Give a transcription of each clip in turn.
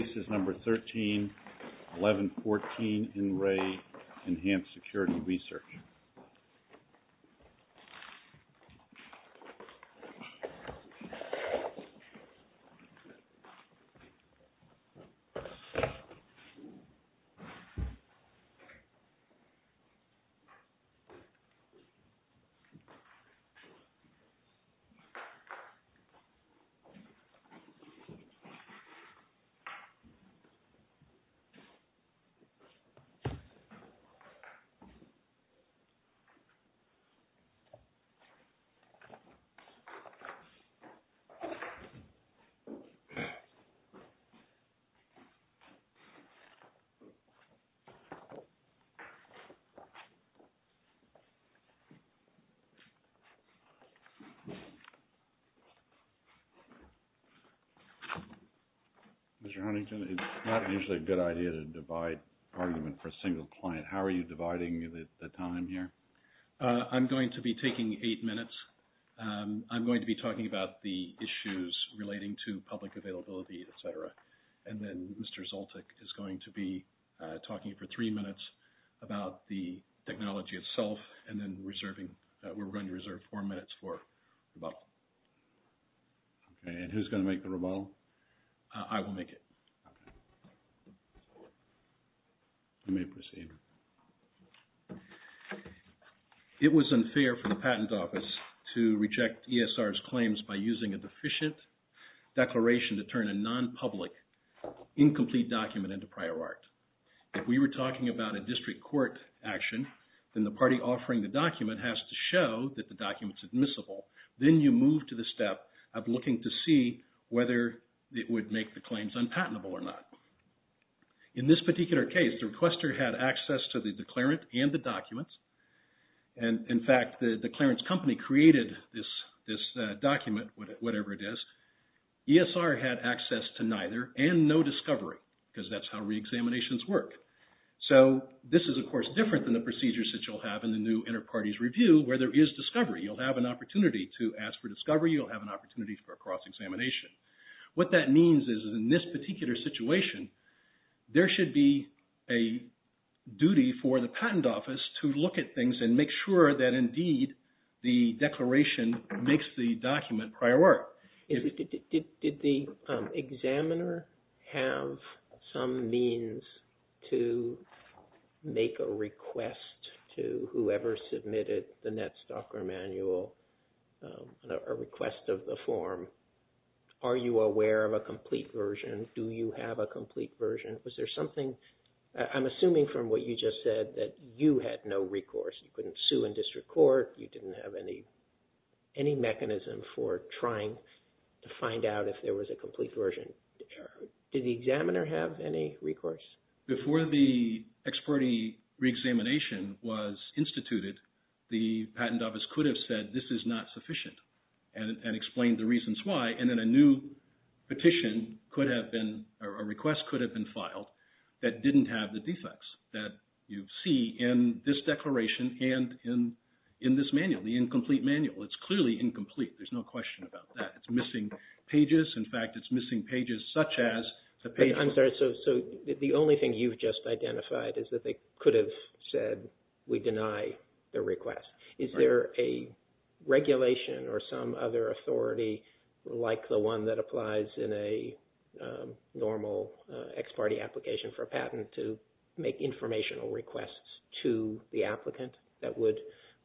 This is number 13, 1114 NREA Enhanced Security Research. This is number 13, 1114 NREA Enhanced Security Research. This is number 13, 1114 NREA Enhanced Security Research. Let me proceed. It was unfair for the Patent Office to reject ESR's claims by using a deficient declaration to turn a non-public incomplete document into prior art. If we were talking about a district court action, then the party offering the document has to show that the document is admissible. Then you move to the step of looking to see whether it would make the claims unpatentable or not. In this particular case, the requester had access to the declarant and the documents. In fact, the declarant's company created this document, whatever it is. ESR had access to neither and no discovery, because that's how reexaminations work. This is, of course, different than the procedures that you'll have in the new Interparties Review, where there is discovery. You'll have an opportunity to ask for discovery. You'll have an opportunity for a cross-examination. What that means is, in this particular situation, there should be a duty for the Patent Office to look at things and make sure that, indeed, the declaration makes the document prior art. Did the examiner have some means to make a request to whoever submitted the NetStalker manual, a request of the form? Are you aware of a complete version? Do you have a complete version? I'm assuming from what you just said that you had no recourse. You couldn't sue in district court. You didn't have any mechanism for trying to find out if there was a complete version. Did the examiner have any recourse? Before the experti reexamination was instituted, the Patent Office could have said, this is not sufficient, and explained the reasons why. And then a new petition could have been, or a request could have been filed that didn't have the defects that you see in this declaration and in this document. But in this manual, the incomplete manual, it's clearly incomplete. There's no question about that. It's missing pages. In fact, it's missing pages such as the pages... I'm sorry. So the only thing you've just identified is that they could have said, we deny the request. Is there a regulation or some other authority like the one that applies in a normal ex parte application for a patent to make informational requests to the applicant that would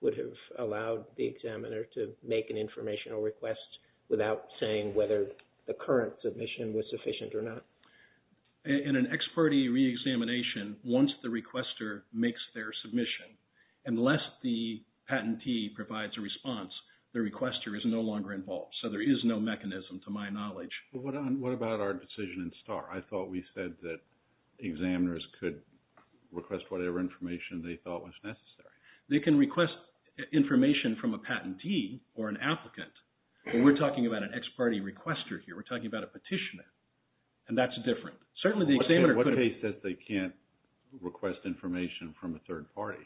have allowed the examiner to make an informational request without saying whether the current submission was sufficient or not? In an ex parte reexamination, once the requester makes their submission, unless the patentee provides a response, the requester is no longer involved. So there is no mechanism to my knowledge. What about our decision in STAR? I thought we said that examiners could request whatever information they thought was necessary. They can request information from a patentee or an applicant. But we're talking about an ex parte requester here. We're talking about a petitioner. And that's different. What if they can't request information from a third party?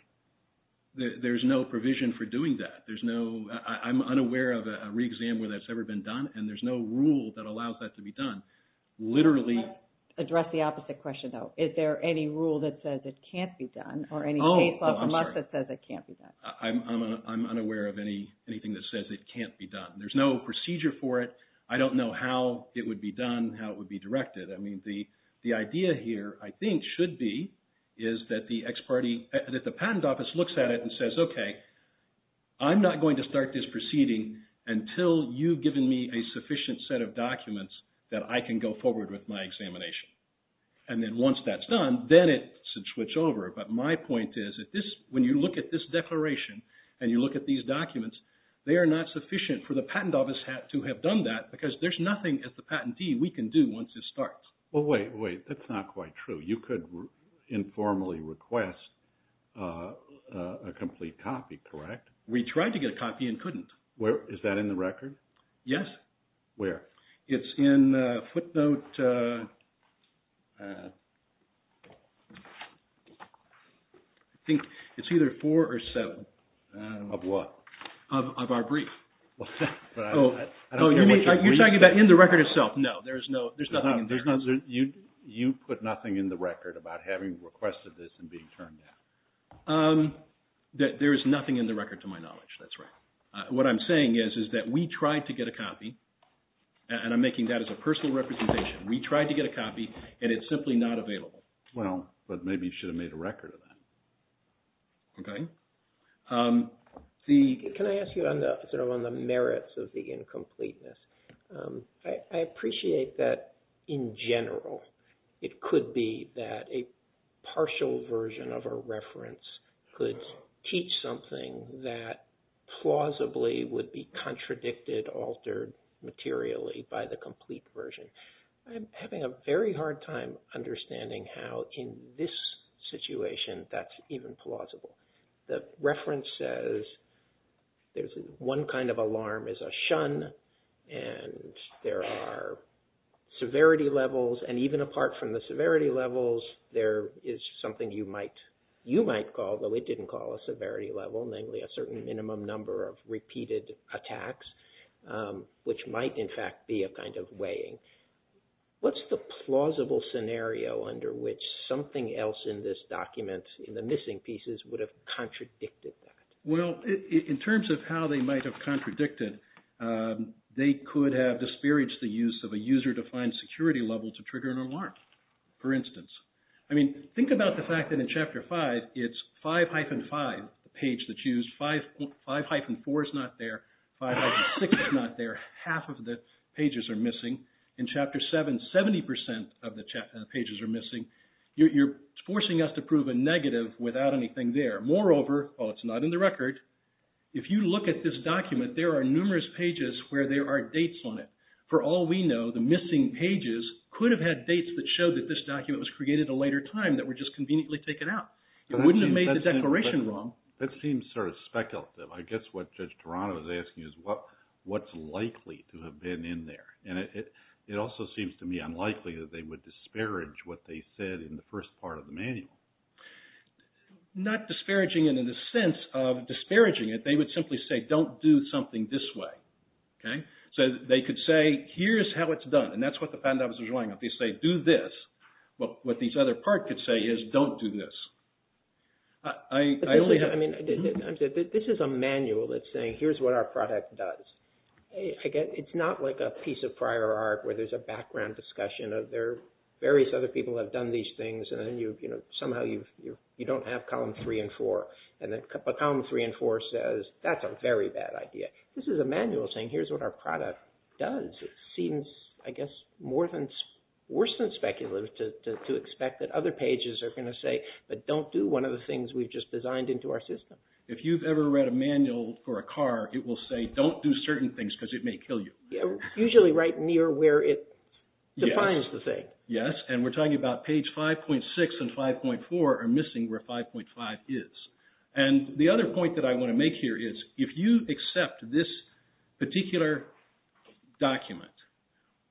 There's no provision for doing that. I'm unaware of a reexam where that's ever been done, and there's no rule that allows that to be done. Let's address the opposite question, though. Is there any rule that says it can't be done, or any case law from us that says it can't be done? I'm unaware of anything that says it can't be done. There's no procedure for it. I don't know how it would be done, how it would be directed. I mean, the idea here, I think, should be is that the patent office looks at it and says, okay, I'm not going to start this proceeding until you've given me a sufficient set of documents that I can go forward with my examination. And then once that's done, then it should switch over. But my point is, when you look at this declaration and you look at these documents, they are not sufficient for the patent office to have done that, because there's nothing as the patentee we can do once this starts. Well, wait, wait. That's not quite true. You could informally request a complete copy, correct? We tried to get a copy and couldn't. Is that in the record? Yes. Where? It's in footnote, I think it's either four or seven. Of what? Of our brief. You're talking about in the record itself. No, there's nothing in there. You put nothing in the record about having requested this and being turned down? There is nothing in the record to my knowledge, that's right. What I'm saying is, is that we tried to get a copy, and I'm making that as a personal representation. We tried to get a copy and it's simply not available. Well, but maybe you should have made a record of that. Okay. Can I ask you on the merits of the incompleteness? I appreciate that in general it could be that a partial version of a reference could teach something that plausibly would be contradicted, altered materially by the complete version. I'm having a very hard time understanding how in this situation that's even plausible. The reference says one kind of alarm is a shun, and there are severity levels, and even apart from the severity levels, there is something you might call, though it didn't call a severity level, namely a certain minimum number of repeated attacks, which might in fact be a kind of weighing. What's the plausible scenario under which something else in this document, in the missing pieces, would have contradicted that? Well, in terms of how they might have contradicted, they could have disparaged the use of a user-defined security level to trigger an alarm, for instance. I mean, think about the fact that in Chapter 5, it's 5-5, the page that's used. 5-4 is not there. 5-6 is not there. Half of the pages are missing. In Chapter 7, 70% of the pages are missing. You're forcing us to prove a negative without anything there. Moreover, while it's not in the record, if you look at this document, there are numerous pages where there are dates on it. For all we know, the missing pages could have had dates that showed that this document was created at a later time that were just conveniently taken out. It wouldn't have made the declaration wrong. That seems sort of speculative. I guess what Judge Toronto is asking is what's likely to have been in there? And it also seems to me unlikely that they would disparage what they said in the first part of the manual. Not disparaging it in the sense of disparaging it. They would simply say, don't do something this way. So they could say, here's how it's done. And that's what the patent officers were going with. They say, do this. But what the other part could say is, don't do this. This is a manual that's saying, here's what our product does. It's not like a piece of prior art where there's a background discussion of various other people have done these things and somehow you don't have column 3 and 4. And then column 3 and 4 says, that's a very bad idea. This is a manual saying, here's what our product does. It seems, I guess, worse than speculative to expect that other pages are going to say, but don't do one of the things we've just designed into our system. If you've ever read a manual for a car, it will say, don't do certain things because it may kill you. Usually right near where it defines the thing. Yes, and we're talking about page 5.6 and 5.4 are missing where 5.5 is. And the other point that I want to make here is, if you accept this particular document,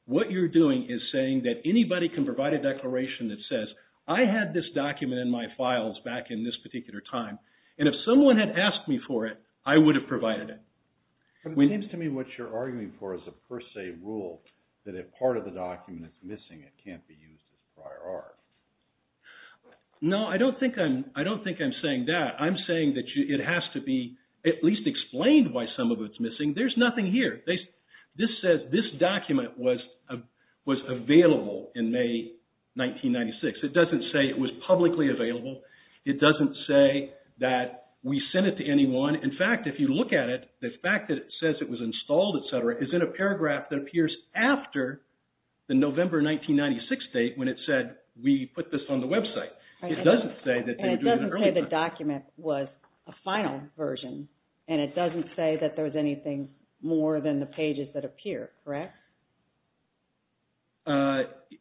what you're doing is saying that anybody can provide a declaration that says, I had this document in my files back in this particular time. And if someone had asked me for it, I would have provided it. It seems to me what you're arguing for is a per se rule that if part of the document is missing, it can't be used as prior art. No, I don't think I'm saying that. I'm saying that it has to be at least explained why some of it's missing. There's nothing here. This document was available in May 1996. It doesn't say it was publicly available. It doesn't say that we sent it to anyone. In fact, if you look at it, the fact that it says it was installed, et cetera, is in a paragraph that appears after the November 1996 date when it said we put this on the website. It doesn't say that they were doing it early. And it doesn't say the document was a final version. And it doesn't say that there was anything more than the pages that appear, correct?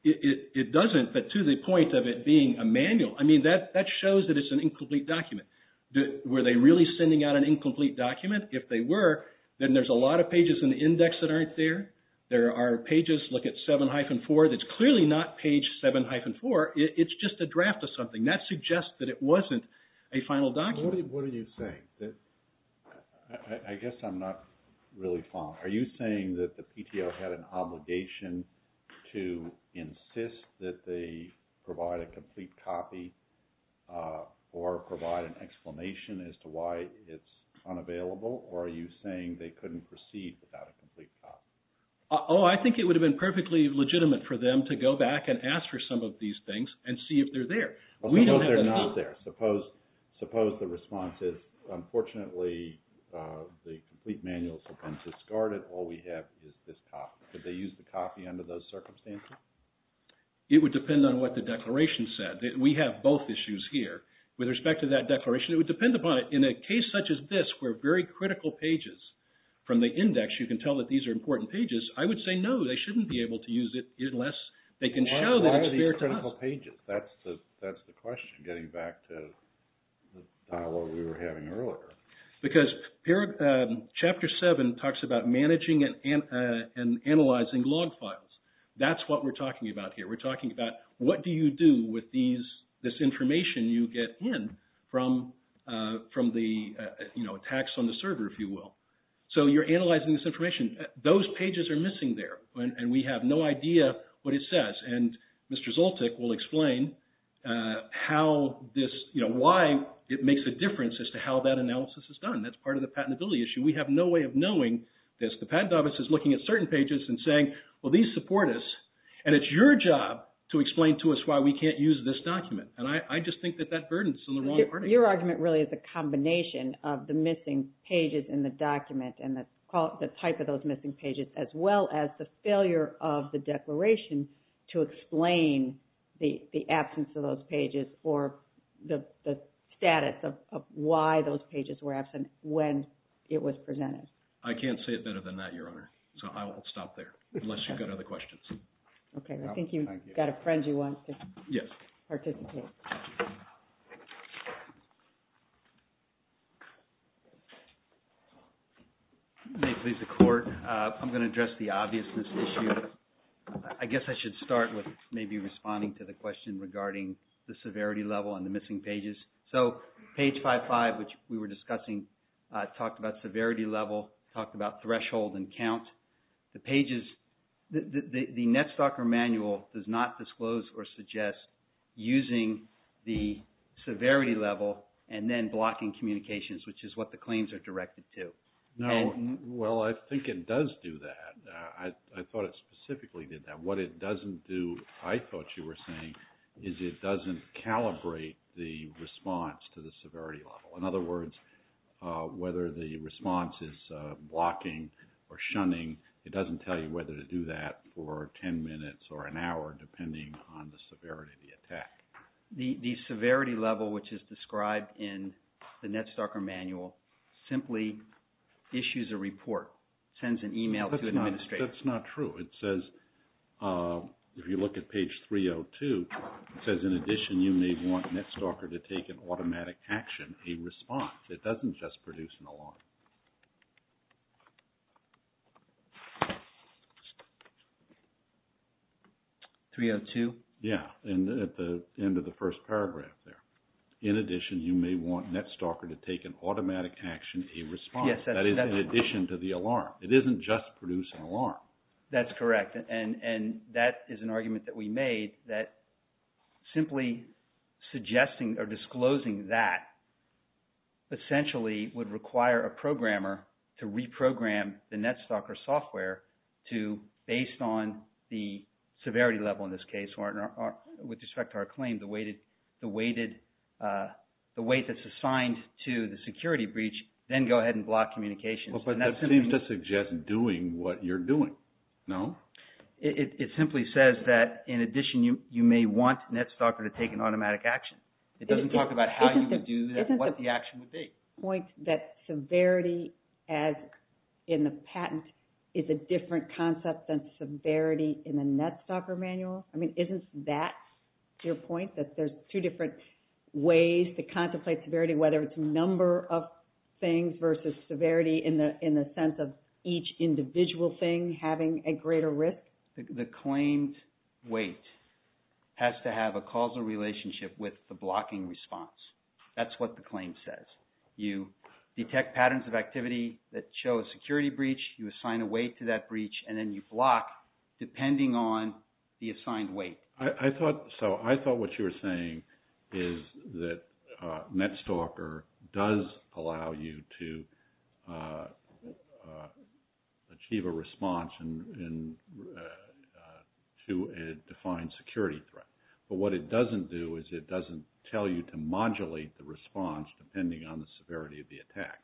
It doesn't, but to the point of it being a manual. I mean, that shows that it's an incomplete document. Were they really sending out an incomplete document? If they were, then there's a lot of pages in the index that aren't there. There are pages, look at 7-4, that's clearly not page 7-4. It's just a draft of something. That suggests that it wasn't a final document. What are you saying? I guess I'm not really following. Are you saying that the PTO had an obligation to insist that they provide a complete copy or provide an explanation as to why it's unavailable? Or are you saying they couldn't proceed without a complete copy? Oh, I think it would have been perfectly legitimate for them to go back and ask for some of these things and see if they're there. Suppose they're not there. Suppose the response is, unfortunately, the complete manuals have been discarded. All we have is this copy. Could they use the copy under those circumstances? It would depend on what the declaration said. We have both issues here. With respect to that declaration, it would depend upon it. In a case such as this where very critical pages from the index, you can tell that these are important pages, I would say no, they shouldn't be able to use it unless they can show that it's there to help. Why are these critical pages? That's the question getting back to the dialogue we were having earlier. Because Chapter 7 talks about managing and analyzing log files. That's what we're talking about here. We're talking about what do you do with this information you get in from the attacks on the server, if you will. So you're analyzing this information. Those pages are missing there, and we have no idea what it says. And Mr. Zoltik will explain how this, you know, why it makes a difference as to how that analysis is done. That's part of the patentability issue. We have no way of knowing this. The patent office is looking at certain pages and saying, well, these support us, and it's your job to explain to us why we can't use this document. And I just think that that burden is on the wrong party. Your argument really is a combination of the missing pages in the document and the type of those missing pages, as well as the failure of the declaration to explain the absence of those pages or the status of why those pages were absent when it was presented. I can't say it better than that, Your Honor. So I will stop there, unless you've got other questions. Okay, I think you've got a friend you want to participate. Thank you. May it please the Court, I'm going to address the obviousness issue. I guess I should start with maybe responding to the question regarding the severity level and the missing pages. So page 55, which we were discussing, talked about severity level, talked about threshold and count. The pages, the NetStalker manual does not disclose or suggest using the severity level and then blocking communications, which is what the claims are directed to. No, well, I think it does do that. I thought it specifically did that. What it doesn't do, I thought you were saying, is it doesn't calibrate the response to the severity level. In other words, whether the response is blocking or shunning, it doesn't tell you whether to do that for 10 minutes or an hour depending on the severity of the attack. The severity level, which is described in the NetStalker manual, simply issues a report, sends an email to an administrator. That's not true. It says, if you look at page 302, it says, in addition, you may want NetStalker to take an automatic action, a response. It doesn't just produce an alarm. 302? Yeah, and at the end of the first paragraph there. In addition, you may want NetStalker to take an automatic action, a response. That is, in addition to the alarm. It isn't just produce an alarm. That's correct, and that is an argument that we made that simply suggesting or disclosing that essentially would require a programmer to reprogram the NetStalker software to, based on the severity level in this case with respect to our claim, the weight that's assigned to the security breach, then go ahead and block communications. But that seems to suggest doing what you're doing, no? It simply says that, in addition, you may want NetStalker to take an automatic action. It doesn't talk about how you would do that and what the action would be. Isn't the point that severity in the patent is a different concept than severity in the NetStalker manual? I mean, isn't that your point, that there's two different ways to contemplate severity, whether it's number of things versus severity in the sense of each individual thing having a greater risk? The claimed weight has to have a causal relationship with the blocking response. That's what the claim says. You detect patterns of activity that show a security breach, you assign a weight to that breach, and then you block depending on the assigned weight. So I thought what you were saying is that NetStalker does allow you to achieve a response to a defined security threat. But what it doesn't do is it doesn't tell you to modulate the response depending on the severity of the attack.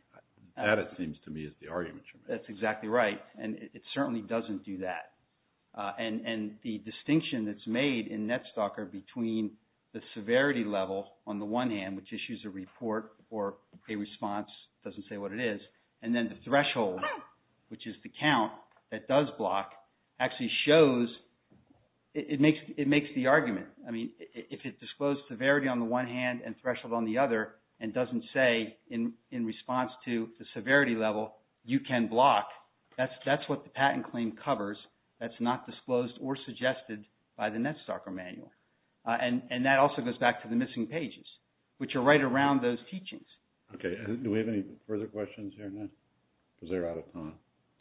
That, it seems to me, is the argument you're making. That's exactly right, and it certainly doesn't do that. And the distinction that's made in NetStalker between the severity level on the one hand, which issues a report or a response, doesn't say what it is, and then the threshold, which is the count that does block, actually shows, it makes the argument. I mean, if it disclosed severity on the one hand and threshold on the other and doesn't say in response to the severity level, you can block, that's what the patent claim covers that's not disclosed or suggested by the NetStalker manual. And that also goes back to the missing pages, which are right around those teachings. Okay, do we have any further questions here, Annette? Because we're out of time.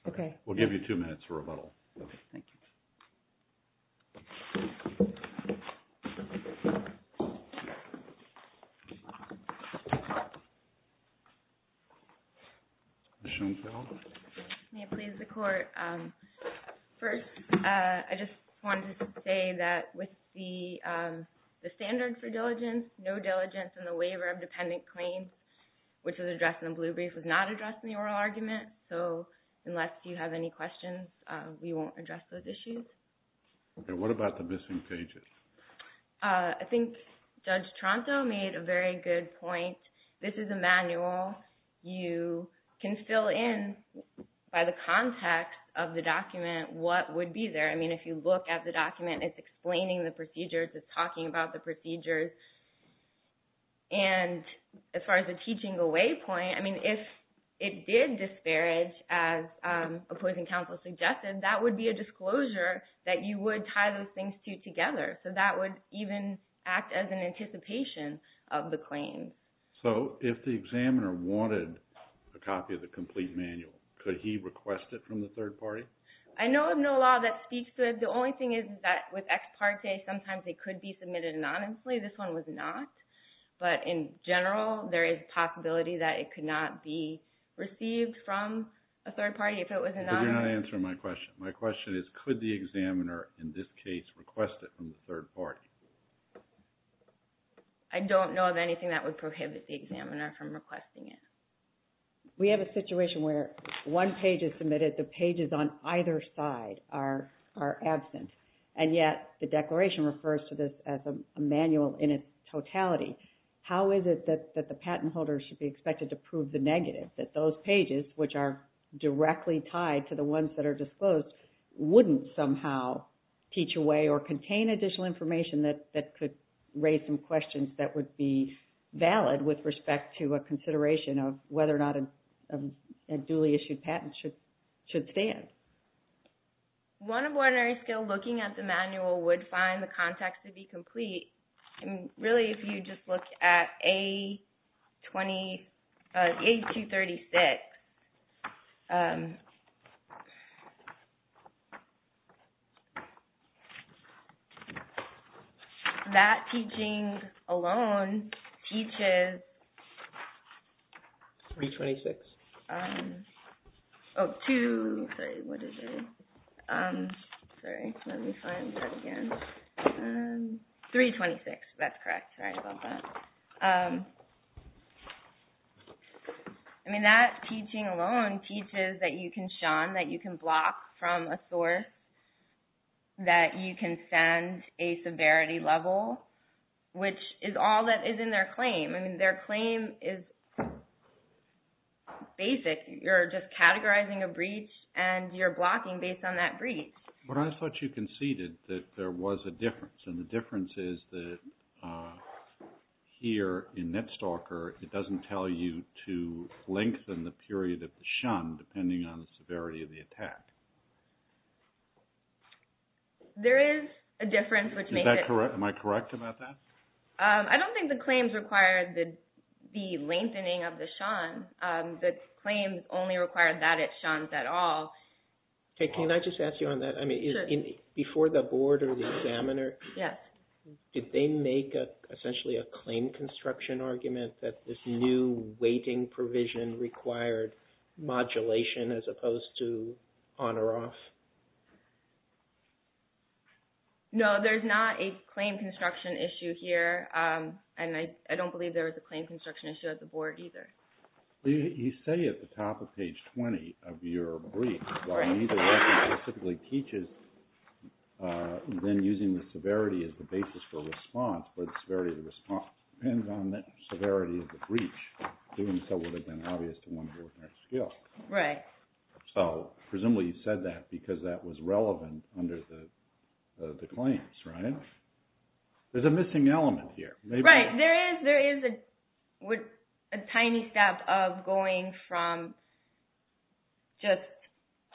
Okay. We'll give you two minutes for rebuttal. Okay, thank you. Annette? Ms. Schoenfeld? May it please the Court? First, I just wanted to say that with the standard for diligence, no diligence in the waiver of dependent claims, which was addressed in the blue brief, was not addressed in the oral argument. So unless you have any questions, we won't address those issues. Okay, what about the missing pages? I think Judge Tronto made a very good point. This is a manual. You can fill in by the context of the document what would be there. I mean, if you look at the document, it's explaining the procedures. It's talking about the procedures. And as far as the teaching away point, I mean, if it did disparage, as opposing counsel suggested, that would be a disclosure that you would tie those things together. So that would even act as an anticipation of the claim. So if the examiner wanted a copy of the complete manual, could he request it from the third party? I know of no law that speaks to it. The only thing is that with ex parte, sometimes it could be submitted anonymously. This one was not. But in general, there is a possibility that it could not be received from a third party if it was anonymous. But you're not answering my question. My question is, could the examiner, in this case, request it from the third party? I don't know of anything that would prohibit the examiner from requesting it. We have a situation where one page is submitted. The pages on either side are absent. And yet the declaration refers to this as a manual in its totality. How is it that the patent holder should be expected to prove the negative, that those pages, which are directly tied to the ones that are disclosed, wouldn't somehow teach away or contain additional information that could raise some questions that would be valid with respect to a consideration of whether or not a duly issued patent should stand? One of ordinary skill looking at the manual would find the context to be complete. Really, if you just look at A236, that teaching alone teaches… 326. Oh, 2, sorry, what is it? Sorry, let me find that again. 326, that's correct. Sorry about that. I mean that teaching alone teaches that you can shun, that you can block from a source, that you can send a severity level, which is all that is in their claim. I mean their claim is basic. You're just categorizing a breach and you're blocking based on that breach. But I thought you conceded that there was a difference and the difference is that here in NetStalker, it doesn't tell you to lengthen the period of the shun depending on the severity of the attack. There is a difference which makes it… Am I correct about that? I don't think the claims require the lengthening of the shun. The claims only require that it shuns at all. Can I just ask you on that? Before the board or the examiner, did they make essentially a claim construction argument that this new weighting provision required modulation as opposed to on or off? No, there's not a claim construction issue here and I don't believe there was a claim construction issue at the board either. You say at the top of page 20 of your brief that neither lesson specifically teaches then using the severity as the basis for response, but the severity of the response depends on the severity of the breach. Doing so would have been obvious to one ordinary skill. Right. So presumably you said that because that was relevant under the claims, right? There's a missing element here. Right. There is a tiny step of going from just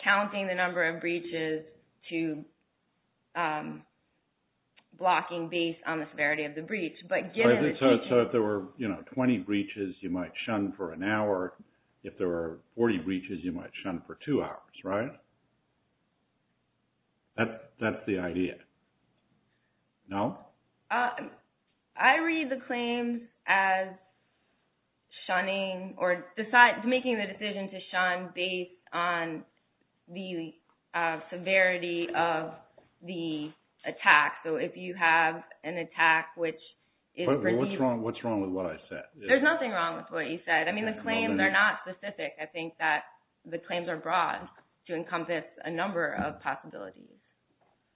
counting the number of breaches to blocking based on the severity of the breach. So if there were 20 breaches, you might shun for an hour. Or if there were 40 breaches, you might shun for two hours, right? That's the idea. No? I read the claims as shunning or making the decision to shun based on the severity of the attack. So if you have an attack which is... What's wrong with what I said? There's nothing wrong with what you said. I mean, the claims are not specific. I think that the claims are broad to encompass a number of possibilities.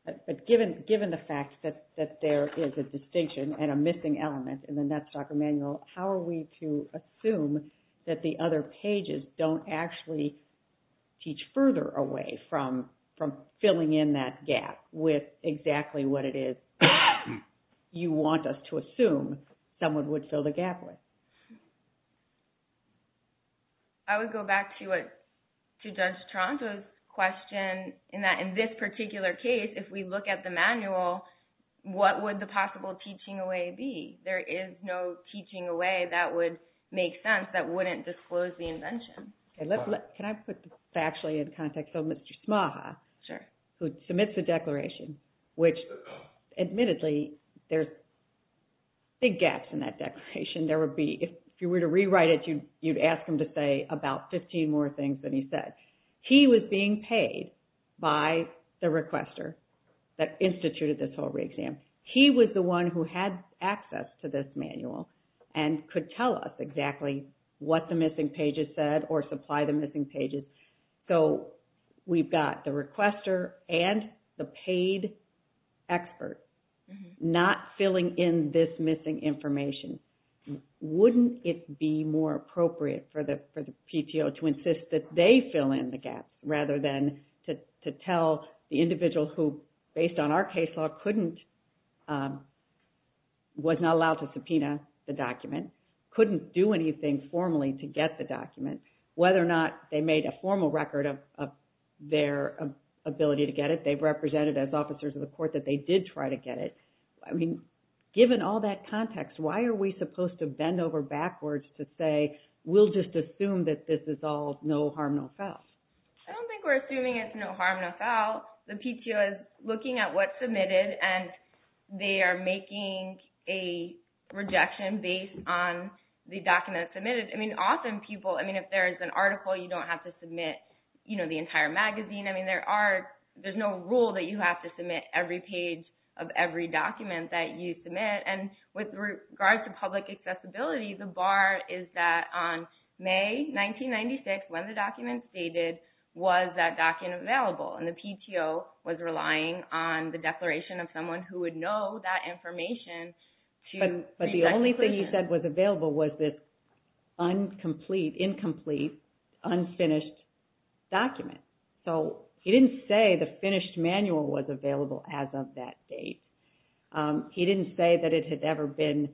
But given the fact that there is a distinction and a missing element in the Netstalker Manual, how are we to assume that the other pages don't actually teach further away from filling in that gap with exactly what it is you want us to assume someone would fill the gap with? I would go back to Judge Toronto's question in that in this particular case, if we look at the manual, what would the possible teaching away be? There is no teaching away that would make sense that wouldn't disclose the invention. Can I put this factually in context of Mr. Smaha, who submits the declaration, which admittedly, there's big gaps in that declaration. If you were to rewrite it, you'd ask him to say about 15 more things than he said. He was being paid by the requester that instituted this whole re-exam. He was the one who had access to this manual and could tell us exactly what the missing pages said or supply the missing pages. We've got the requester and the paid expert not filling in this missing information. Wouldn't it be more appropriate for the PTO to insist that they fill in the gaps rather than to tell the individual who, based on our case law, was not allowed to subpoena the document, couldn't do anything formally to get the document, and whether or not they made a formal record of their ability to get it. They've represented as officers of the court that they did try to get it. Given all that context, why are we supposed to bend over backwards to say we'll just assume that this is all no harm, no foul? I don't think we're assuming it's no harm, no foul. The PTO is looking at what's submitted and they are making a rejection based on the document submitted. Often people, if there's an article, you don't have to submit the entire magazine. There's no rule that you have to submit every page of every document that you submit. With regards to public accessibility, the bar is that on May 1996, when the document was stated, was that document available? The PTO was relying on the declaration of someone who would know that information. But the only thing you said was available was this incomplete, unfinished document. He didn't say the finished manual was available as of that date. He didn't say that it had ever been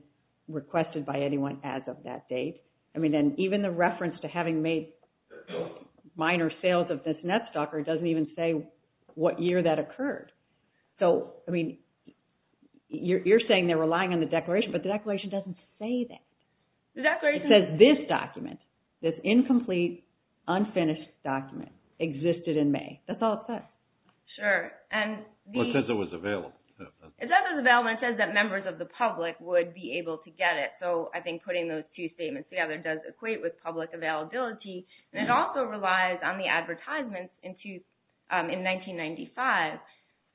requested by anyone as of that date. Even the reference to having made minor sales of this net stalker doesn't even say what year that occurred. You're saying they're relying on the declaration, but the declaration doesn't say that. It says this document, this incomplete, unfinished document, existed in May. That's all it says. Sure. It says it was available. It says it was available, and it says that members of the public would be able to get it. I think putting those two statements together does equate with public availability. It also relies on the advertisements in 1995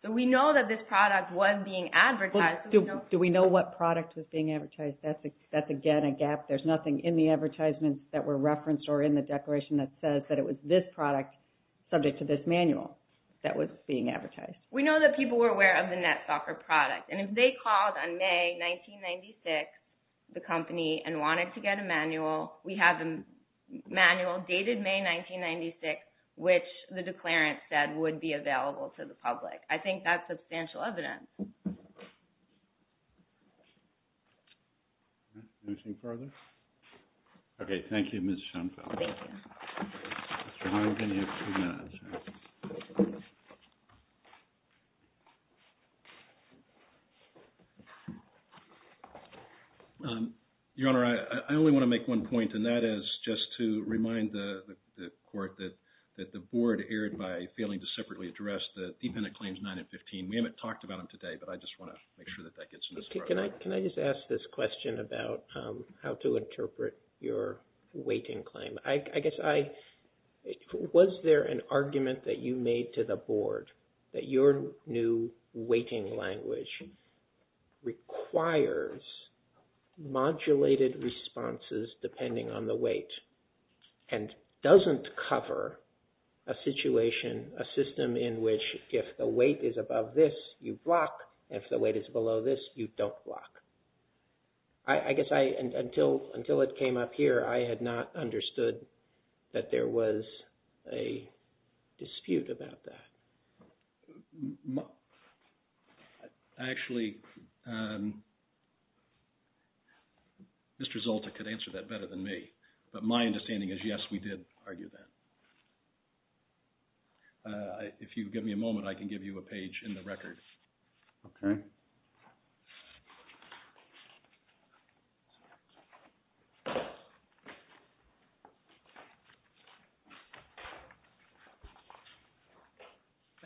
that we know that this product was being advertised. Do we know what product was being advertised? That's, again, a gap. There's nothing in the advertisements that were referenced or in the declaration that says that it was this product subject to this manual that was being advertised. We know that people were aware of the net stalker product, and if they called on May 1996, the company, and wanted to get a manual, we have the manual dated May 1996, which the declarant said would be available to the public. I think that's substantial evidence. Anything further? Okay. Thank you, Ms. Schoenfeld. Thank you. Mr. Harding, you have two minutes. Your Honor, I only want to make one point, and that is just to remind the court that the board erred by failing to separately address the Dependent Claims 9 and 15. We haven't talked about them today, but I just want to make sure that that gets in the program. Can I just ask this question about how to interpret your weighting claim? I guess I... Was there an argument that you made to the board that your new weighting language requires modulated responses depending on the weight and doesn't cover a situation, a system in which if the weight is above this, you block, and if the weight is below this, you don't block? I guess until it came up here, I had not understood that there was a dispute about that. Actually, Mr. Zolta could answer that better than me, but my understanding is yes, we did argue that. If you give me a moment, I can give you a page in the record. Okay.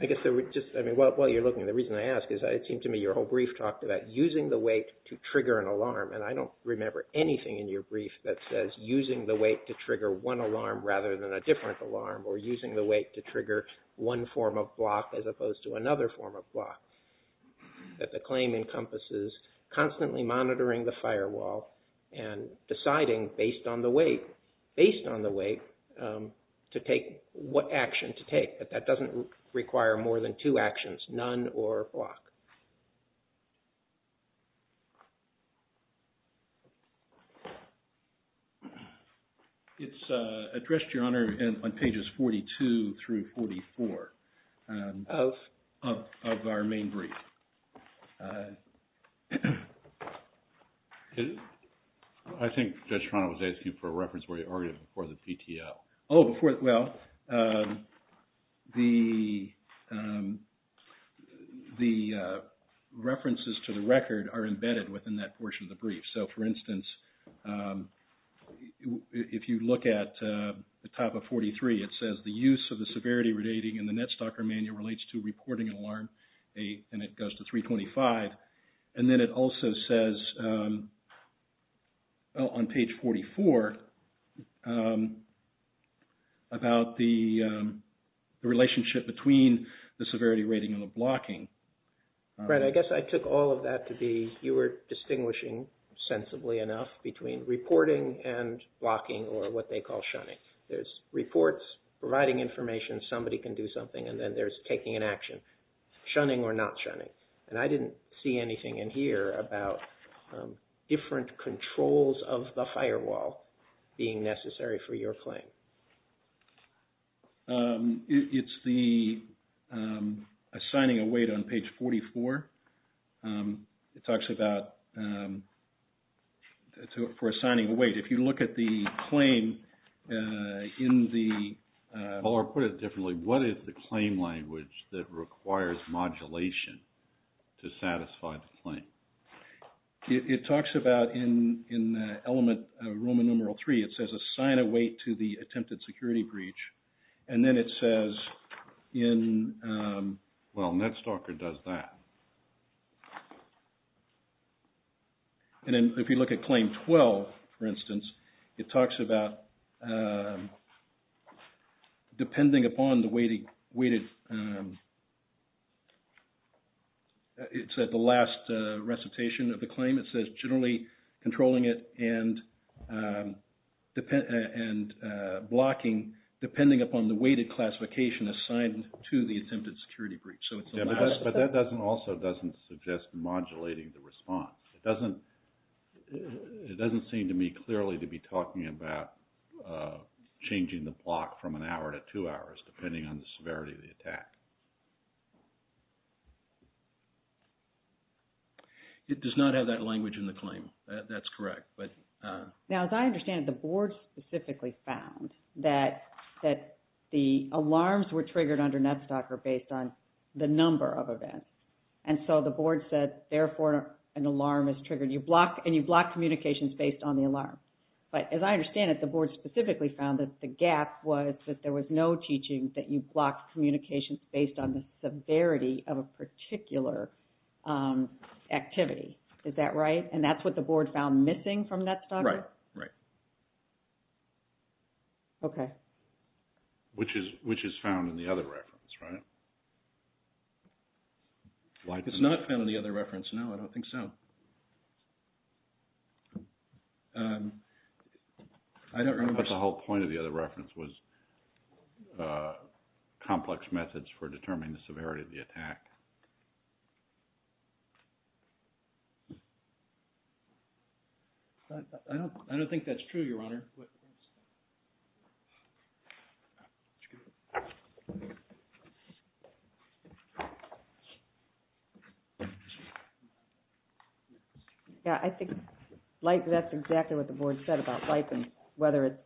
I guess while you're looking, the reason I ask is it seemed to me your whole brief talked about using the weight to trigger an alarm, and I don't remember anything in your brief that says using the weight to trigger one alarm rather than a different alarm or using the weight to trigger one form of block as opposed to another form of block, that the claim encompasses constantly monitoring the firewall and deciding based on the weight to take what action to take, but that doesn't require more than two actions, none or block. It's addressed, Your Honor, on pages 42 through 44 of our main brief. I think Judge Toronto was asking for a reference where you argued before the PTL. Oh, before, well, the, the, references to the record are embedded within that portion of the brief. So, for instance, if you look at the top of 43, it says the use of the severity rating in the NetStalker Manual relates to reporting an alarm, and it goes to 325, and then it also says, on page 44, about the relationship between the severity rating and the blocking. Brett, I guess I took all of that to be, you were distinguishing, sensibly enough, between reporting and blocking or what they call shunning. There's reports providing information, somebody can do something, and then there's taking an action, shunning or not shunning. And I didn't see anything in here about different controls of the firewall being necessary for your claim. It's the, assigning a weight on page 44. It talks about, for assigning a weight. If you look at the claim in the, Or put it differently, what is the claim language that requires modulation to satisfy the claim? It talks about, in element Roman numeral three, it says assign a weight to the attempted security breach. And then it says in, well, NetStalker does that. And then if you look at claim 12, for instance, it talks about, depending upon the weighted, it said the last recitation of the claim, it says generally controlling it and blocking, depending upon the weighted classification assigned to the attempted security breach. But that also doesn't suggest modulating the response. It doesn't seem to me clearly to be talking about changing the block from an hour to two hours, It does not have that language in the claim. That's correct. Now, as I understand it, the board specifically found that the alarms were triggered under NetStalker based on the number of events. And so the board said, therefore an alarm is triggered and you block communications based on the alarm. But as I understand it, the board specifically found that the gap was that there was no teaching that you blocked communications based on the severity of a particular activity. Is that right? And that's what the board found missing from NetStalker? Right, right. Okay. Which is found in the other reference, right? It's not found in the other reference. No, I don't think so. I don't remember. But the whole point of the other reference was complex methods for determining the severity of the attack. I don't think that's true, Your Honor. Yeah, I think that's exactly what the board said about bipin, whether it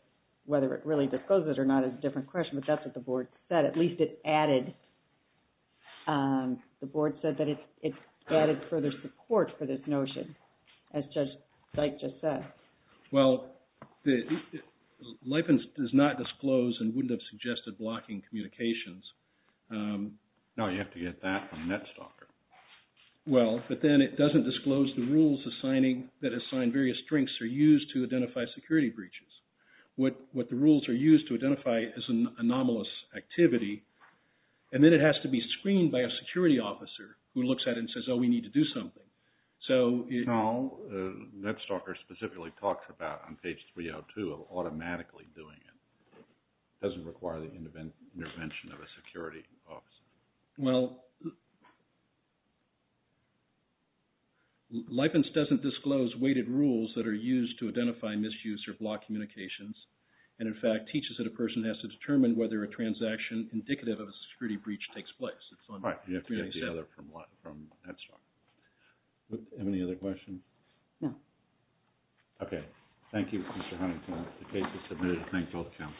really discloses it or not is a different question, but that's what the board said. At least it added, the board said that it added further support for this notion. As Judge Dyke just said. Well, LIPIN does not disclose and wouldn't have suggested blocking communications. No, you have to get that from NetStalker. Well, but then it doesn't disclose the rules that assign various strengths are used to identify security breaches. What the rules are used to identify is an anomalous activity, and then it has to be screened by a security officer who looks at it and says, oh, we need to do something. No, NetStalker specifically talks about on page 302 of automatically doing it. It doesn't require the intervention of a security officer. Well, LIPIN doesn't disclose weighted rules that are used to identify misuse or block communications, and in fact teaches that a person has to determine whether a transaction indicative of a security breach takes place. Right, you have to get the other from NetStalker. Any other questions? No. Okay. Thank you, Mr. Huntington. The case is submitted. Thank you all for coming.